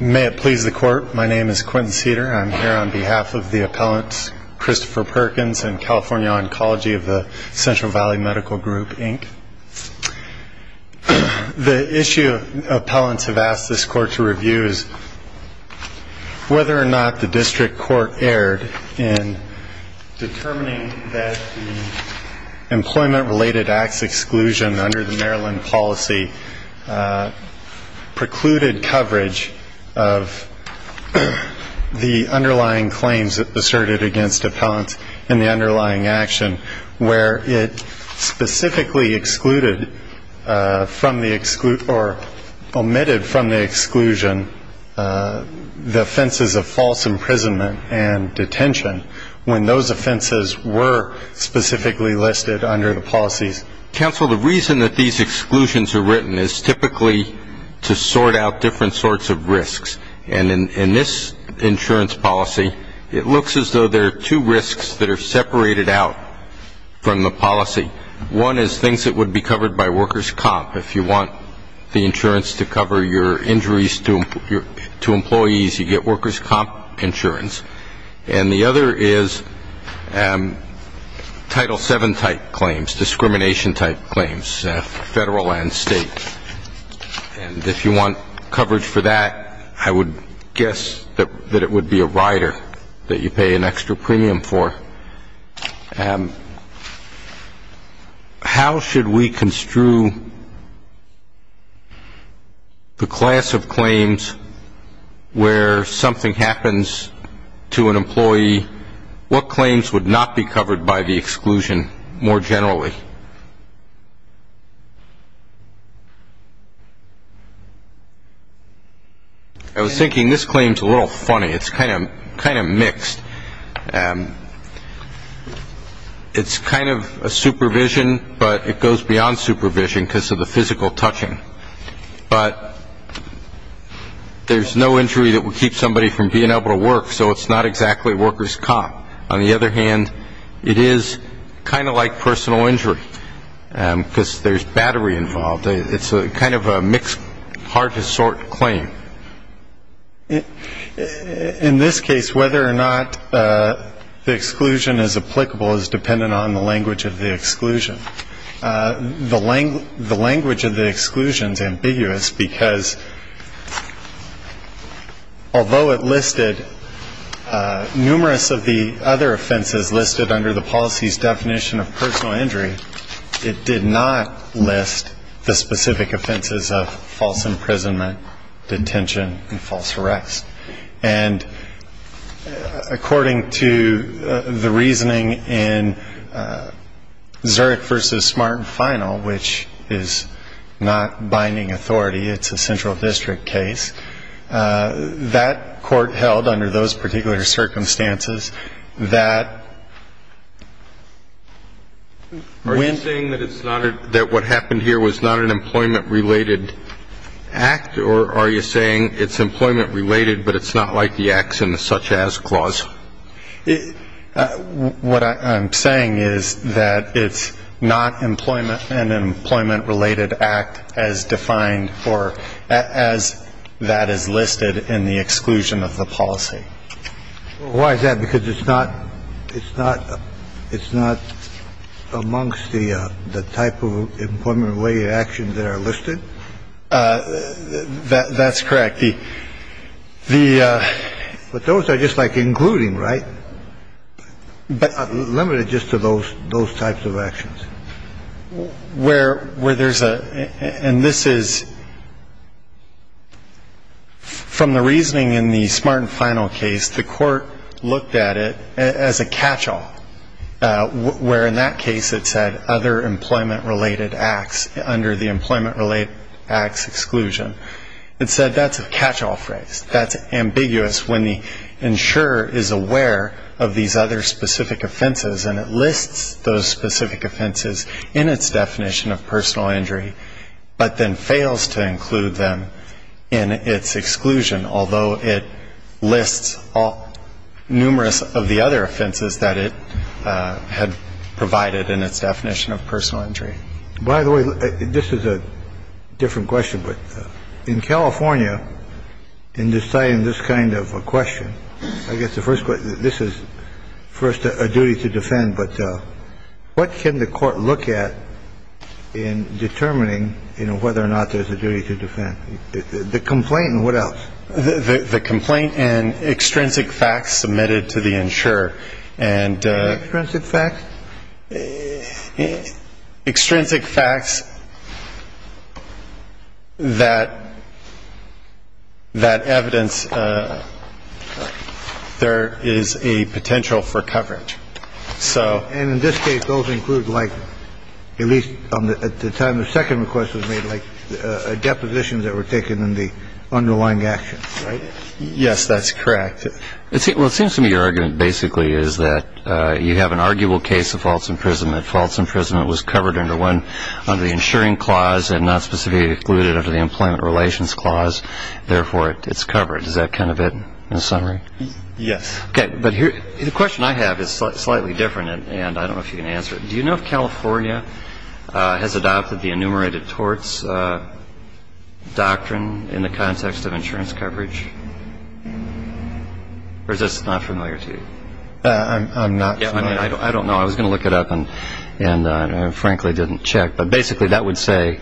May it please the Court, my name is Quentin Cedar and I am here on behalf of the appellants Christopher Perkins and California Oncology of the Central Valley Medical Group, Inc. The issue appellants have asked this Court to review is whether or not the District Court erred in determining that the Employment Related Acts exclusion under the Maryland policy precluded coverage of the underlying claims asserted against appellants in the underlying action where it specifically omitted from the exclusion the offenses of false imprisonment and detention when those offenses were specifically listed under the policies. Counsel, the reason that these exclusions are written is typically to sort out different sorts of risks. And in this insurance policy, it looks as though there are two risks that are separated out from the policy. One is things that would be covered by workers' comp, if you want the insurance to cover your injuries to employees, you get workers' comp insurance. And the other is Title VII type claims, discrimination type claims, federal and state. And if you want coverage for that, I would guess that it would be a rider that you pay an extra premium for. How should we construe the class of claims where something happens to an employee? What claims would not be covered by the exclusion more generally? I was thinking this claim is a little funny. It's kind of mixed. It's kind of a supervision, but it goes beyond supervision because of the physical touching. But there's no injury that would keep somebody from being able to work, so it's not exactly workers' comp. On the other hand, it is kind of like personal injury because there's battery involved. It's kind of a mixed, hard-to-sort claim. In this case, whether or not the exclusion is applicable is dependent on the language of the exclusion. The language of the exclusion is ambiguous because although it listed numerous of the other offenses listed under the policy's definition of personal injury, it did not list the specific offenses of false imprisonment, detention, and false arrest. And according to the reasoning in Zurich v. Smart and Final, which is not binding authority, it's a central district case, that court held under those particular circumstances that when... Are you saying that what happened here was not an employment-related act, or are you saying it's employment-related but it's not like the acts in the such-as clause? What I'm saying is that it's not an employment-related act as defined or as that is listed in the exclusion of the policy. Why is that? Because it's not amongst the type of employment-related actions that are listed? That's correct. The... But those are just like including, right? But limited just to those types of actions. Where there's a... And this is... From the reasoning in the Smart and Final case, the court looked at it as a catch-all, where in that case it said other employment-related acts under the employment-related acts exclusion. It said that's a catch-all phrase. That's ambiguous when the insurer is aware of these other specific offenses and it lists those specific offenses in its definition of personal injury, but then fails to include them in its exclusion, although it lists numerous of the other offenses that it had provided in its definition of personal injury. By the way, this is a different question, but in California, in deciding this kind of a question, I guess the first question, this is first a duty to defend, but what can the court look at in determining, you know, whether or not there's a duty to defend? The complaint and what else? The complaint and extrinsic facts submitted to the insurer and... Extrinsic facts? Extrinsic facts that evidence there is a potential for coverage, so... And in this case, those include like, at least at the time the second request was made, like a deposition that were taken in the underlying actions, right? Yes, that's correct. Well, it seems to me your argument basically is that you have an arguable case of false imprisonment. False imprisonment was covered under the insuring clause and not specifically included under the employment relations clause. Therefore, it's covered. Is that kind of it in summary? Yes. Okay, but the question I have is slightly different and I don't know if you can answer it. Do you know if California has adopted the enumerated torts doctrine in the context of insurance coverage? Or is this not familiar to you? I'm not familiar. I mean, I don't know. I was going to look it up and frankly didn't check, but basically that would say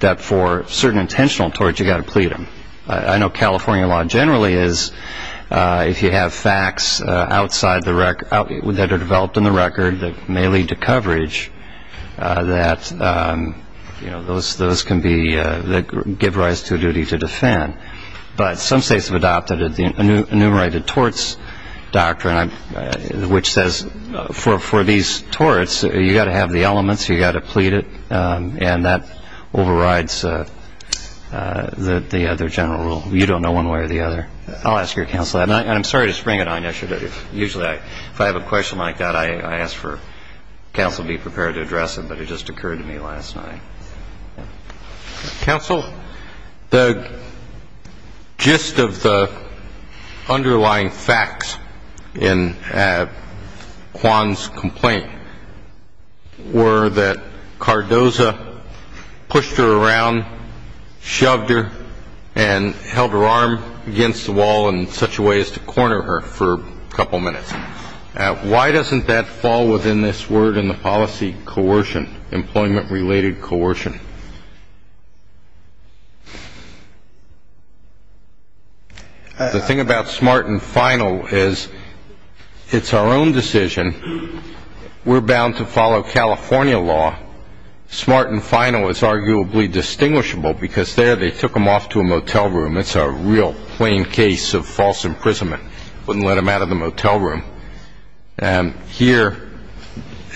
that for certain intentional torts you've got to plead them. I know California law generally is if you have facts outside the record, that are developed in the record that may lead to coverage, that those can give rise to a duty to defend. But some states have adopted the enumerated torts doctrine, which says for these torts you've got to have the elements, you've got to plead it, and that overrides the other general rule. You don't know one way or the other. I'll ask your counsel. And I'm sorry to spring it on you. Usually if I have a question like that I ask for counsel to be prepared to address it, but it just occurred to me last night. Counsel, the gist of the underlying facts in Kwan's complaint were that Cardoza pushed her around, shoved her and held her arm against the wall in such a way as to corner her for a couple minutes. Why doesn't that fall within this word in the policy, coercion, employment-related coercion? The thing about smart and final is it's our own decision. We're bound to follow California law. Smart and final is arguably distinguishable because there they took them off to a motel room. It's a real plain case of false imprisonment. Wouldn't let them out of the motel room. Here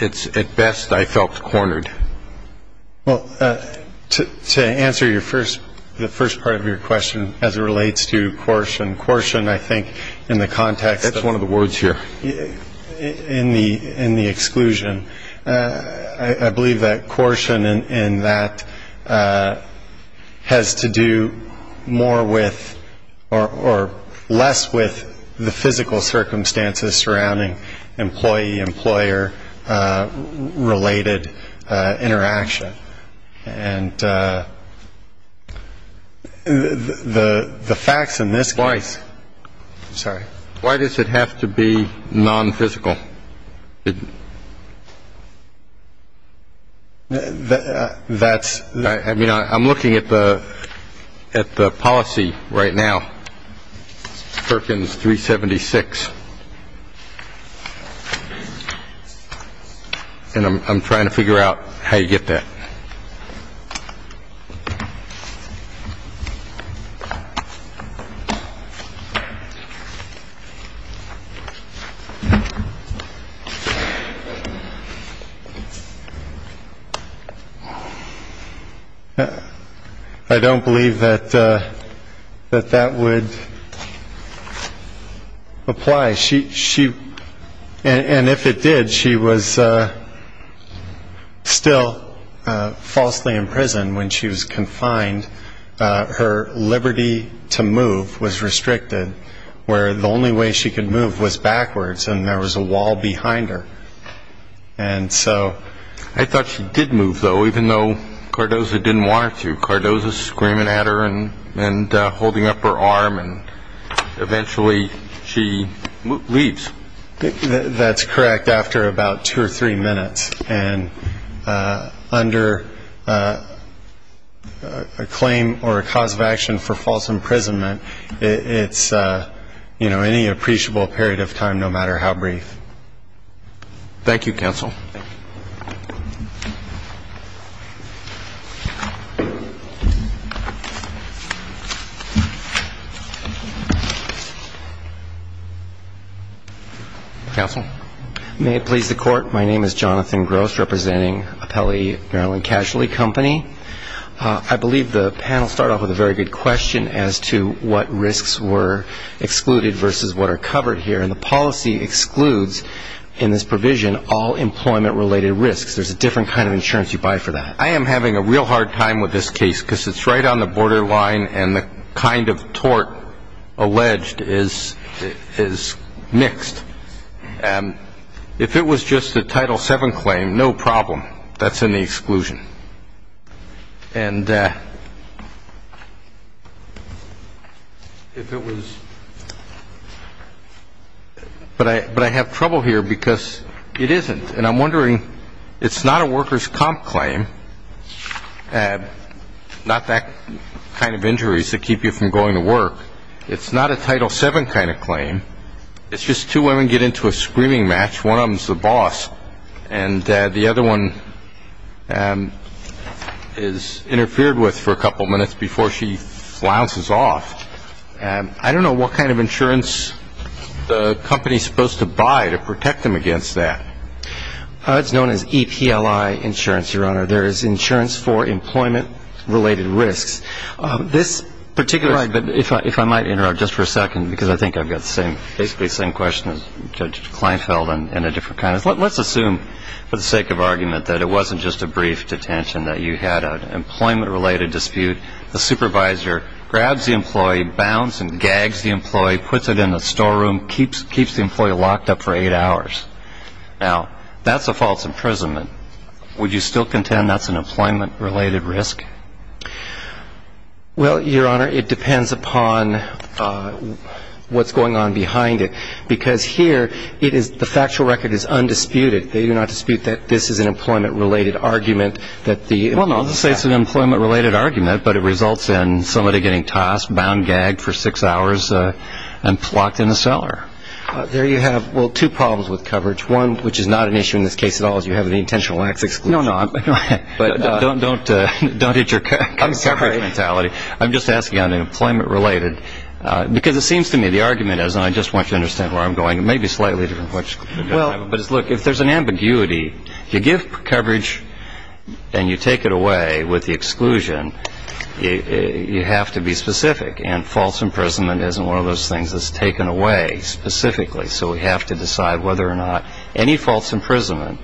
it's at best I felt cornered. Well, to answer the first part of your question as it relates to coercion, and coercion I think in the context. That's one of the words here. In the exclusion. I believe that coercion in that has to do more with or less with the physical circumstances surrounding employee-employer related interaction. And the facts in this. Twice. Sorry. Why does it have to be non-physical? That's. I mean, I'm looking at the policy right now. Perkins 376. And I'm trying to figure out how you get that. I don't believe that that that would apply. She. And if it did, she was still falsely in prison when she was confined. Her liberty to move was restricted where the only way she could move was backwards. And there was a wall behind her. And so I thought she did move, though, even though Cardoza didn't want to. Cardoza screaming at her and holding up her arm. And eventually she leaves. That's correct. After about two or three minutes and under a claim or a cause of action for false imprisonment, it's, you know, any appreciable period of time, no matter how brief. Thank you, Counsel. Counsel. May it please the Court. My name is Jonathan Gross, representing Appellee Maryland Casualty Company. I believe the panel started off with a very good question as to what risks were excluded versus what are covered here. And the policy excludes in this provision all employment-related risks. There's a different kind of insurance you buy for that. I am having a real hard time with this case because it's right on the borderline, and the kind of tort alleged is mixed. If it was just a Title VII claim, no problem. That's in the exclusion. And if it was – but I have trouble here because it isn't. And I'm wondering, it's not a workers' comp claim, not that kind of injuries that keep you from going to work. It's just two women get into a screaming match. One of them is the boss, and the other one is interfered with for a couple minutes before she flounces off. I don't know what kind of insurance the company is supposed to buy to protect them against that. It's known as EPLI insurance, Your Honor. There is insurance for employment-related risks. Right, but if I might interrupt just for a second, because I think I've got basically the same question as Judge Kleinfeld in a different context. Let's assume, for the sake of argument, that it wasn't just a brief detention, that you had an employment-related dispute. The supervisor grabs the employee, bounds and gags the employee, puts it in the storeroom, keeps the employee locked up for eight hours. Now, that's a false imprisonment. Would you still contend that's an employment-related risk? Well, Your Honor, it depends upon what's going on behind it, because here the factual record is undisputed. They do not dispute that this is an employment-related argument. Well, no, I'll just say it's an employment-related argument, but it results in somebody getting tossed, bound, gagged for six hours, and locked in a cellar. There you have, well, two problems with coverage. One, which is not an issue in this case at all, is you have the intentional next exclusion. No, no. Don't hit your coverage mentality. I'm sorry. I'm just asking on an employment-related. Because it seems to me the argument is, and I just want you to understand where I'm going, it may be slightly different, but look, if there's an ambiguity, you give coverage and you take it away with the exclusion, you have to be specific. And false imprisonment isn't one of those things that's taken away specifically, so we have to decide whether or not any false imprisonment,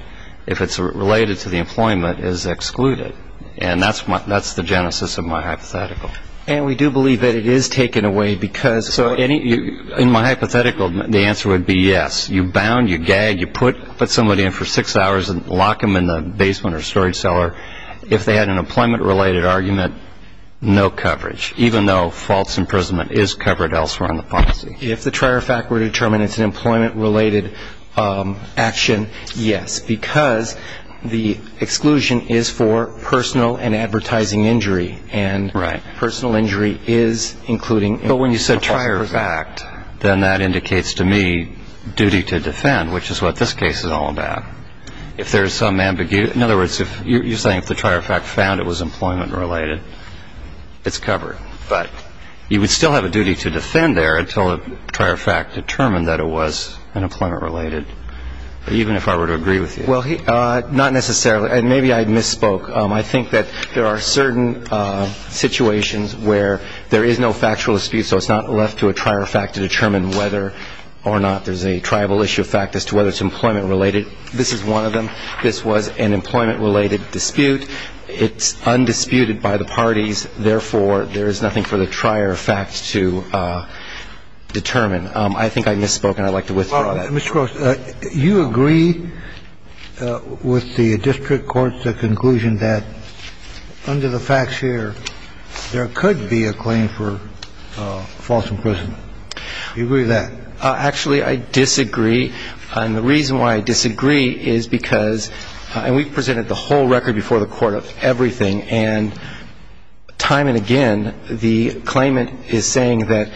if it's related to the employment, is excluded. And that's the genesis of my hypothetical. And we do believe that it is taken away because of any – So in my hypothetical, the answer would be yes. You bound, you gag, you put somebody in for six hours and lock them in the basement or storage cellar. If they had an employment-related argument, no coverage, even though false imprisonment is covered elsewhere on the policy. If the trier fact were determined it's an employment-related action, yes, because the exclusion is for personal and advertising injury. And personal injury is including – But when you said trier fact, then that indicates to me duty to defend, which is what this case is all about. If there's some ambiguity – in other words, you're saying if the trier fact found it was employment-related, it's covered. But you would still have a duty to defend there until a trier fact determined that it was an employment-related, even if I were to agree with you. Well, not necessarily. And maybe I misspoke. I think that there are certain situations where there is no factual dispute, so it's not left to a trier fact to determine whether or not there's a tribal issue of fact as to whether it's employment-related. This is one of them. This was an employment-related dispute. It's undisputed by the parties. Therefore, there is nothing for the trier fact to determine. I think I misspoke, and I'd like to withdraw that. Mr. Gross, you agree with the district court's conclusion that under the facts here, there could be a claim for false imprisonment. Do you agree with that? Actually, I disagree. And the reason why I disagree is because – and we've presented the whole record before the court of everything, and time and again the claimant is saying that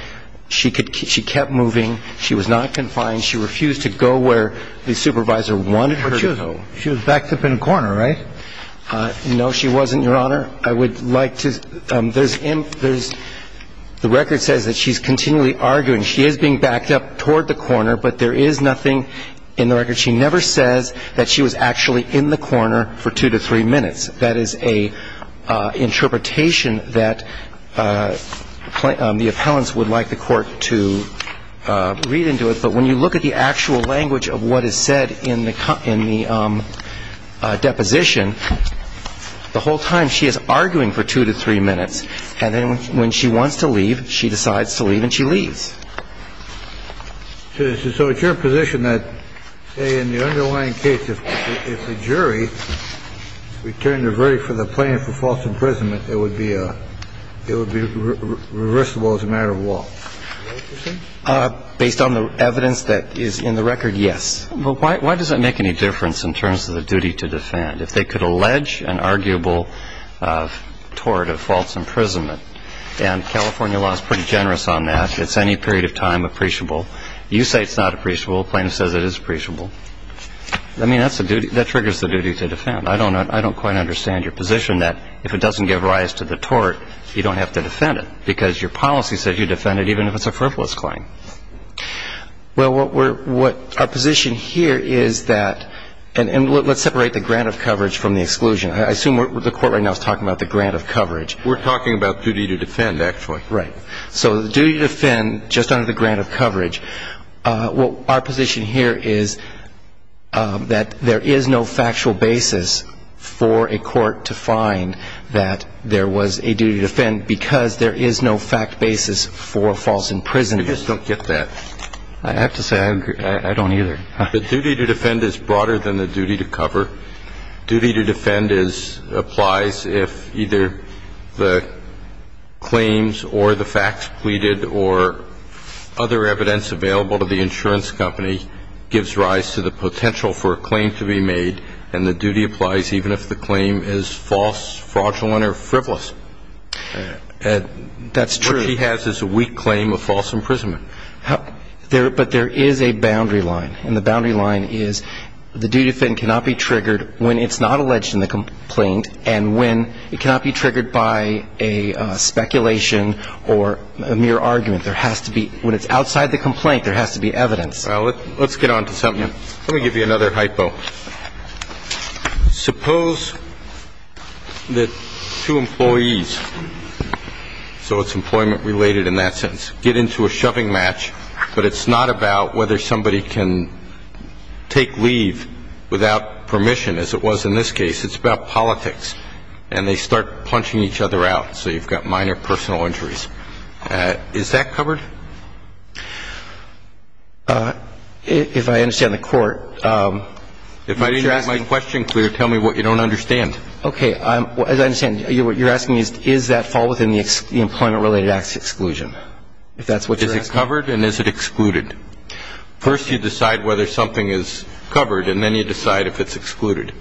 she kept moving, she was not confined, she refused to go where the supervisor wanted her to go. But she was backed up in a corner, right? No, she wasn't, Your Honor. I would like to – there's – the record says that she's continually arguing. She is being backed up toward the corner, but there is nothing in the record. There is nothing in the record that says that she was actually in the corner for two to three minutes. That is an interpretation that the appellants would like the court to read into it. But when you look at the actual language of what is said in the deposition, the whole time she is arguing for two to three minutes. And then when she wants to leave, she decides to leave and she leaves. So it's your position that in the underlying case, if the jury returned a verdict for the plaintiff for false imprisonment, it would be it would be reversible as a matter of law. Based on the evidence that is in the record. Yes. But why does it make any difference in terms of the duty to defend? If they could allege an arguable tort of false imprisonment and California law is pretty generous on that. It's any period of time appreciable. You say it's not appreciable. Plaintiff says it is appreciable. I mean, that's a duty that triggers the duty to defend. I don't know. I don't quite understand your position that if it doesn't give rise to the tort, you don't have to defend it because your policy says you defend it even if it's a frivolous claim. Well, what our position here is that and let's separate the grant of coverage from the exclusion. I assume the court right now is talking about the grant of coverage. We're talking about duty to defend, actually. Right. So the duty to defend just under the grant of coverage. Well, our position here is that there is no factual basis for a court to find that there was a duty to defend because there is no fact basis for false imprisonment. I just don't get that. I have to say I don't either. The duty to defend is broader than the duty to cover. Duty to defend applies if either the claims or the facts pleaded or other evidence available to the insurance company gives rise to the potential for a claim to be made, and the duty applies even if the claim is false, fraudulent, or frivolous. That's true. What he has is a weak claim of false imprisonment. But there is a boundary line, and the boundary line is the duty to defend cannot be triggered when it's not alleged in the complaint and when it cannot be triggered by a speculation or a mere argument. There has to be – when it's outside the complaint, there has to be evidence. Let's get on to something else. Let me give you another hypo. Suppose that two employees, so it's employment-related in that sense, get into a shoving match, but it's not about whether somebody can take leave without permission, as it was in this case. It's about politics. And they start punching each other out, so you've got minor personal injuries. Is that covered? If I understand the court – If I didn't get my question clear, tell me what you don't understand. Okay. As I understand, what you're asking is, is that fall within the employment-related acts exclusion, if that's what you're asking? Is it covered and is it excluded? First you decide whether something is covered, and then you decide if it's excluded.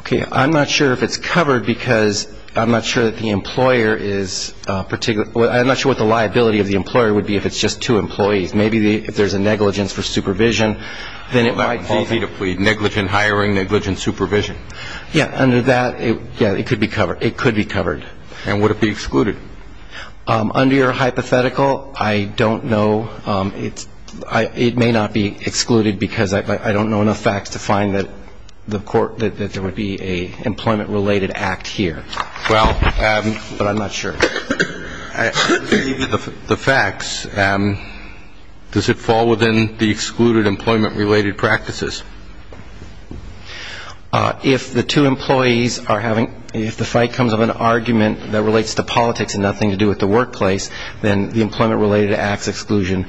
Okay. I'm not sure if it's covered because I'm not sure that the employer is – I'm not sure what the liability of the employer would be if it's just two employees. Maybe if there's a negligence for supervision, then it might – It's easy to plead, negligent hiring, negligent supervision. Yeah. Under that, yeah, it could be covered. It could be covered. And would it be excluded? Under your hypothetical, I don't know. It may not be excluded because I don't know enough facts to find that there would be an employment-related act here. Well – But I'm not sure. The facts, does it fall within the excluded employment-related practices? If the two employees are having – if the fight comes of an argument that relates to politics and nothing to do with the workplace, then the employment-related acts exclusion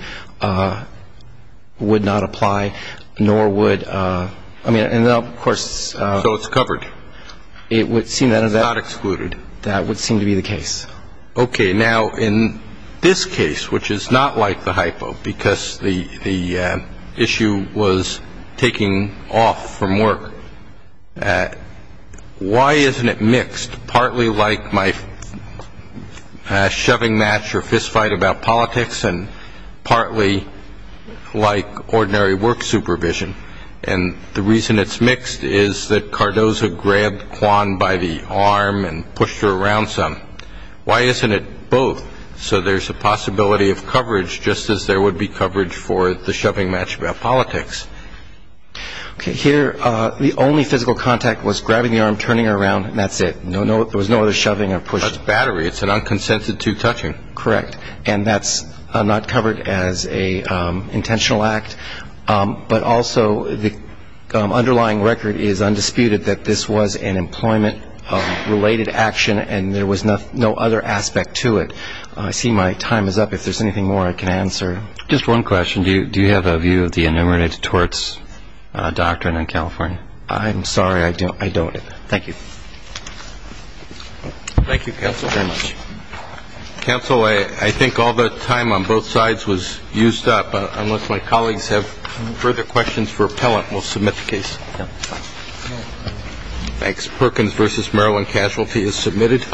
would not apply, nor would – I mean, of course – So it's covered. It would seem that – It's not excluded. That would seem to be the case. Okay. Now, in this case, which is not like the hypo because the issue was taking off from work, why isn't it mixed, partly like my shoving match or fistfight about politics and partly like ordinary work supervision? And the reason it's mixed is that Cardozo grabbed Kwan by the arm and pushed her around some. Why isn't it both? So there's a possibility of coverage, just as there would be coverage for the shoving match about politics. Okay. Here, the only physical contact was grabbing the arm, turning her around, and that's it. There was no other shoving or pushing. That's battery. It's an unconsensed two-touching. Correct. And that's not covered as an intentional act. But also the underlying record is undisputed that this was an employment-related action and there was no other aspect to it. I see my time is up. If there's anything more I can answer. Just one question. Do you have a view of the enumerated torts doctrine in California? I'm sorry. I don't. Thank you. Thank you, counsel, very much. Counsel, I think all the time on both sides was used up. Unless my colleagues have further questions for appellant, we'll submit the case. Thanks. Perkins v. Maryland Casualty is submitted.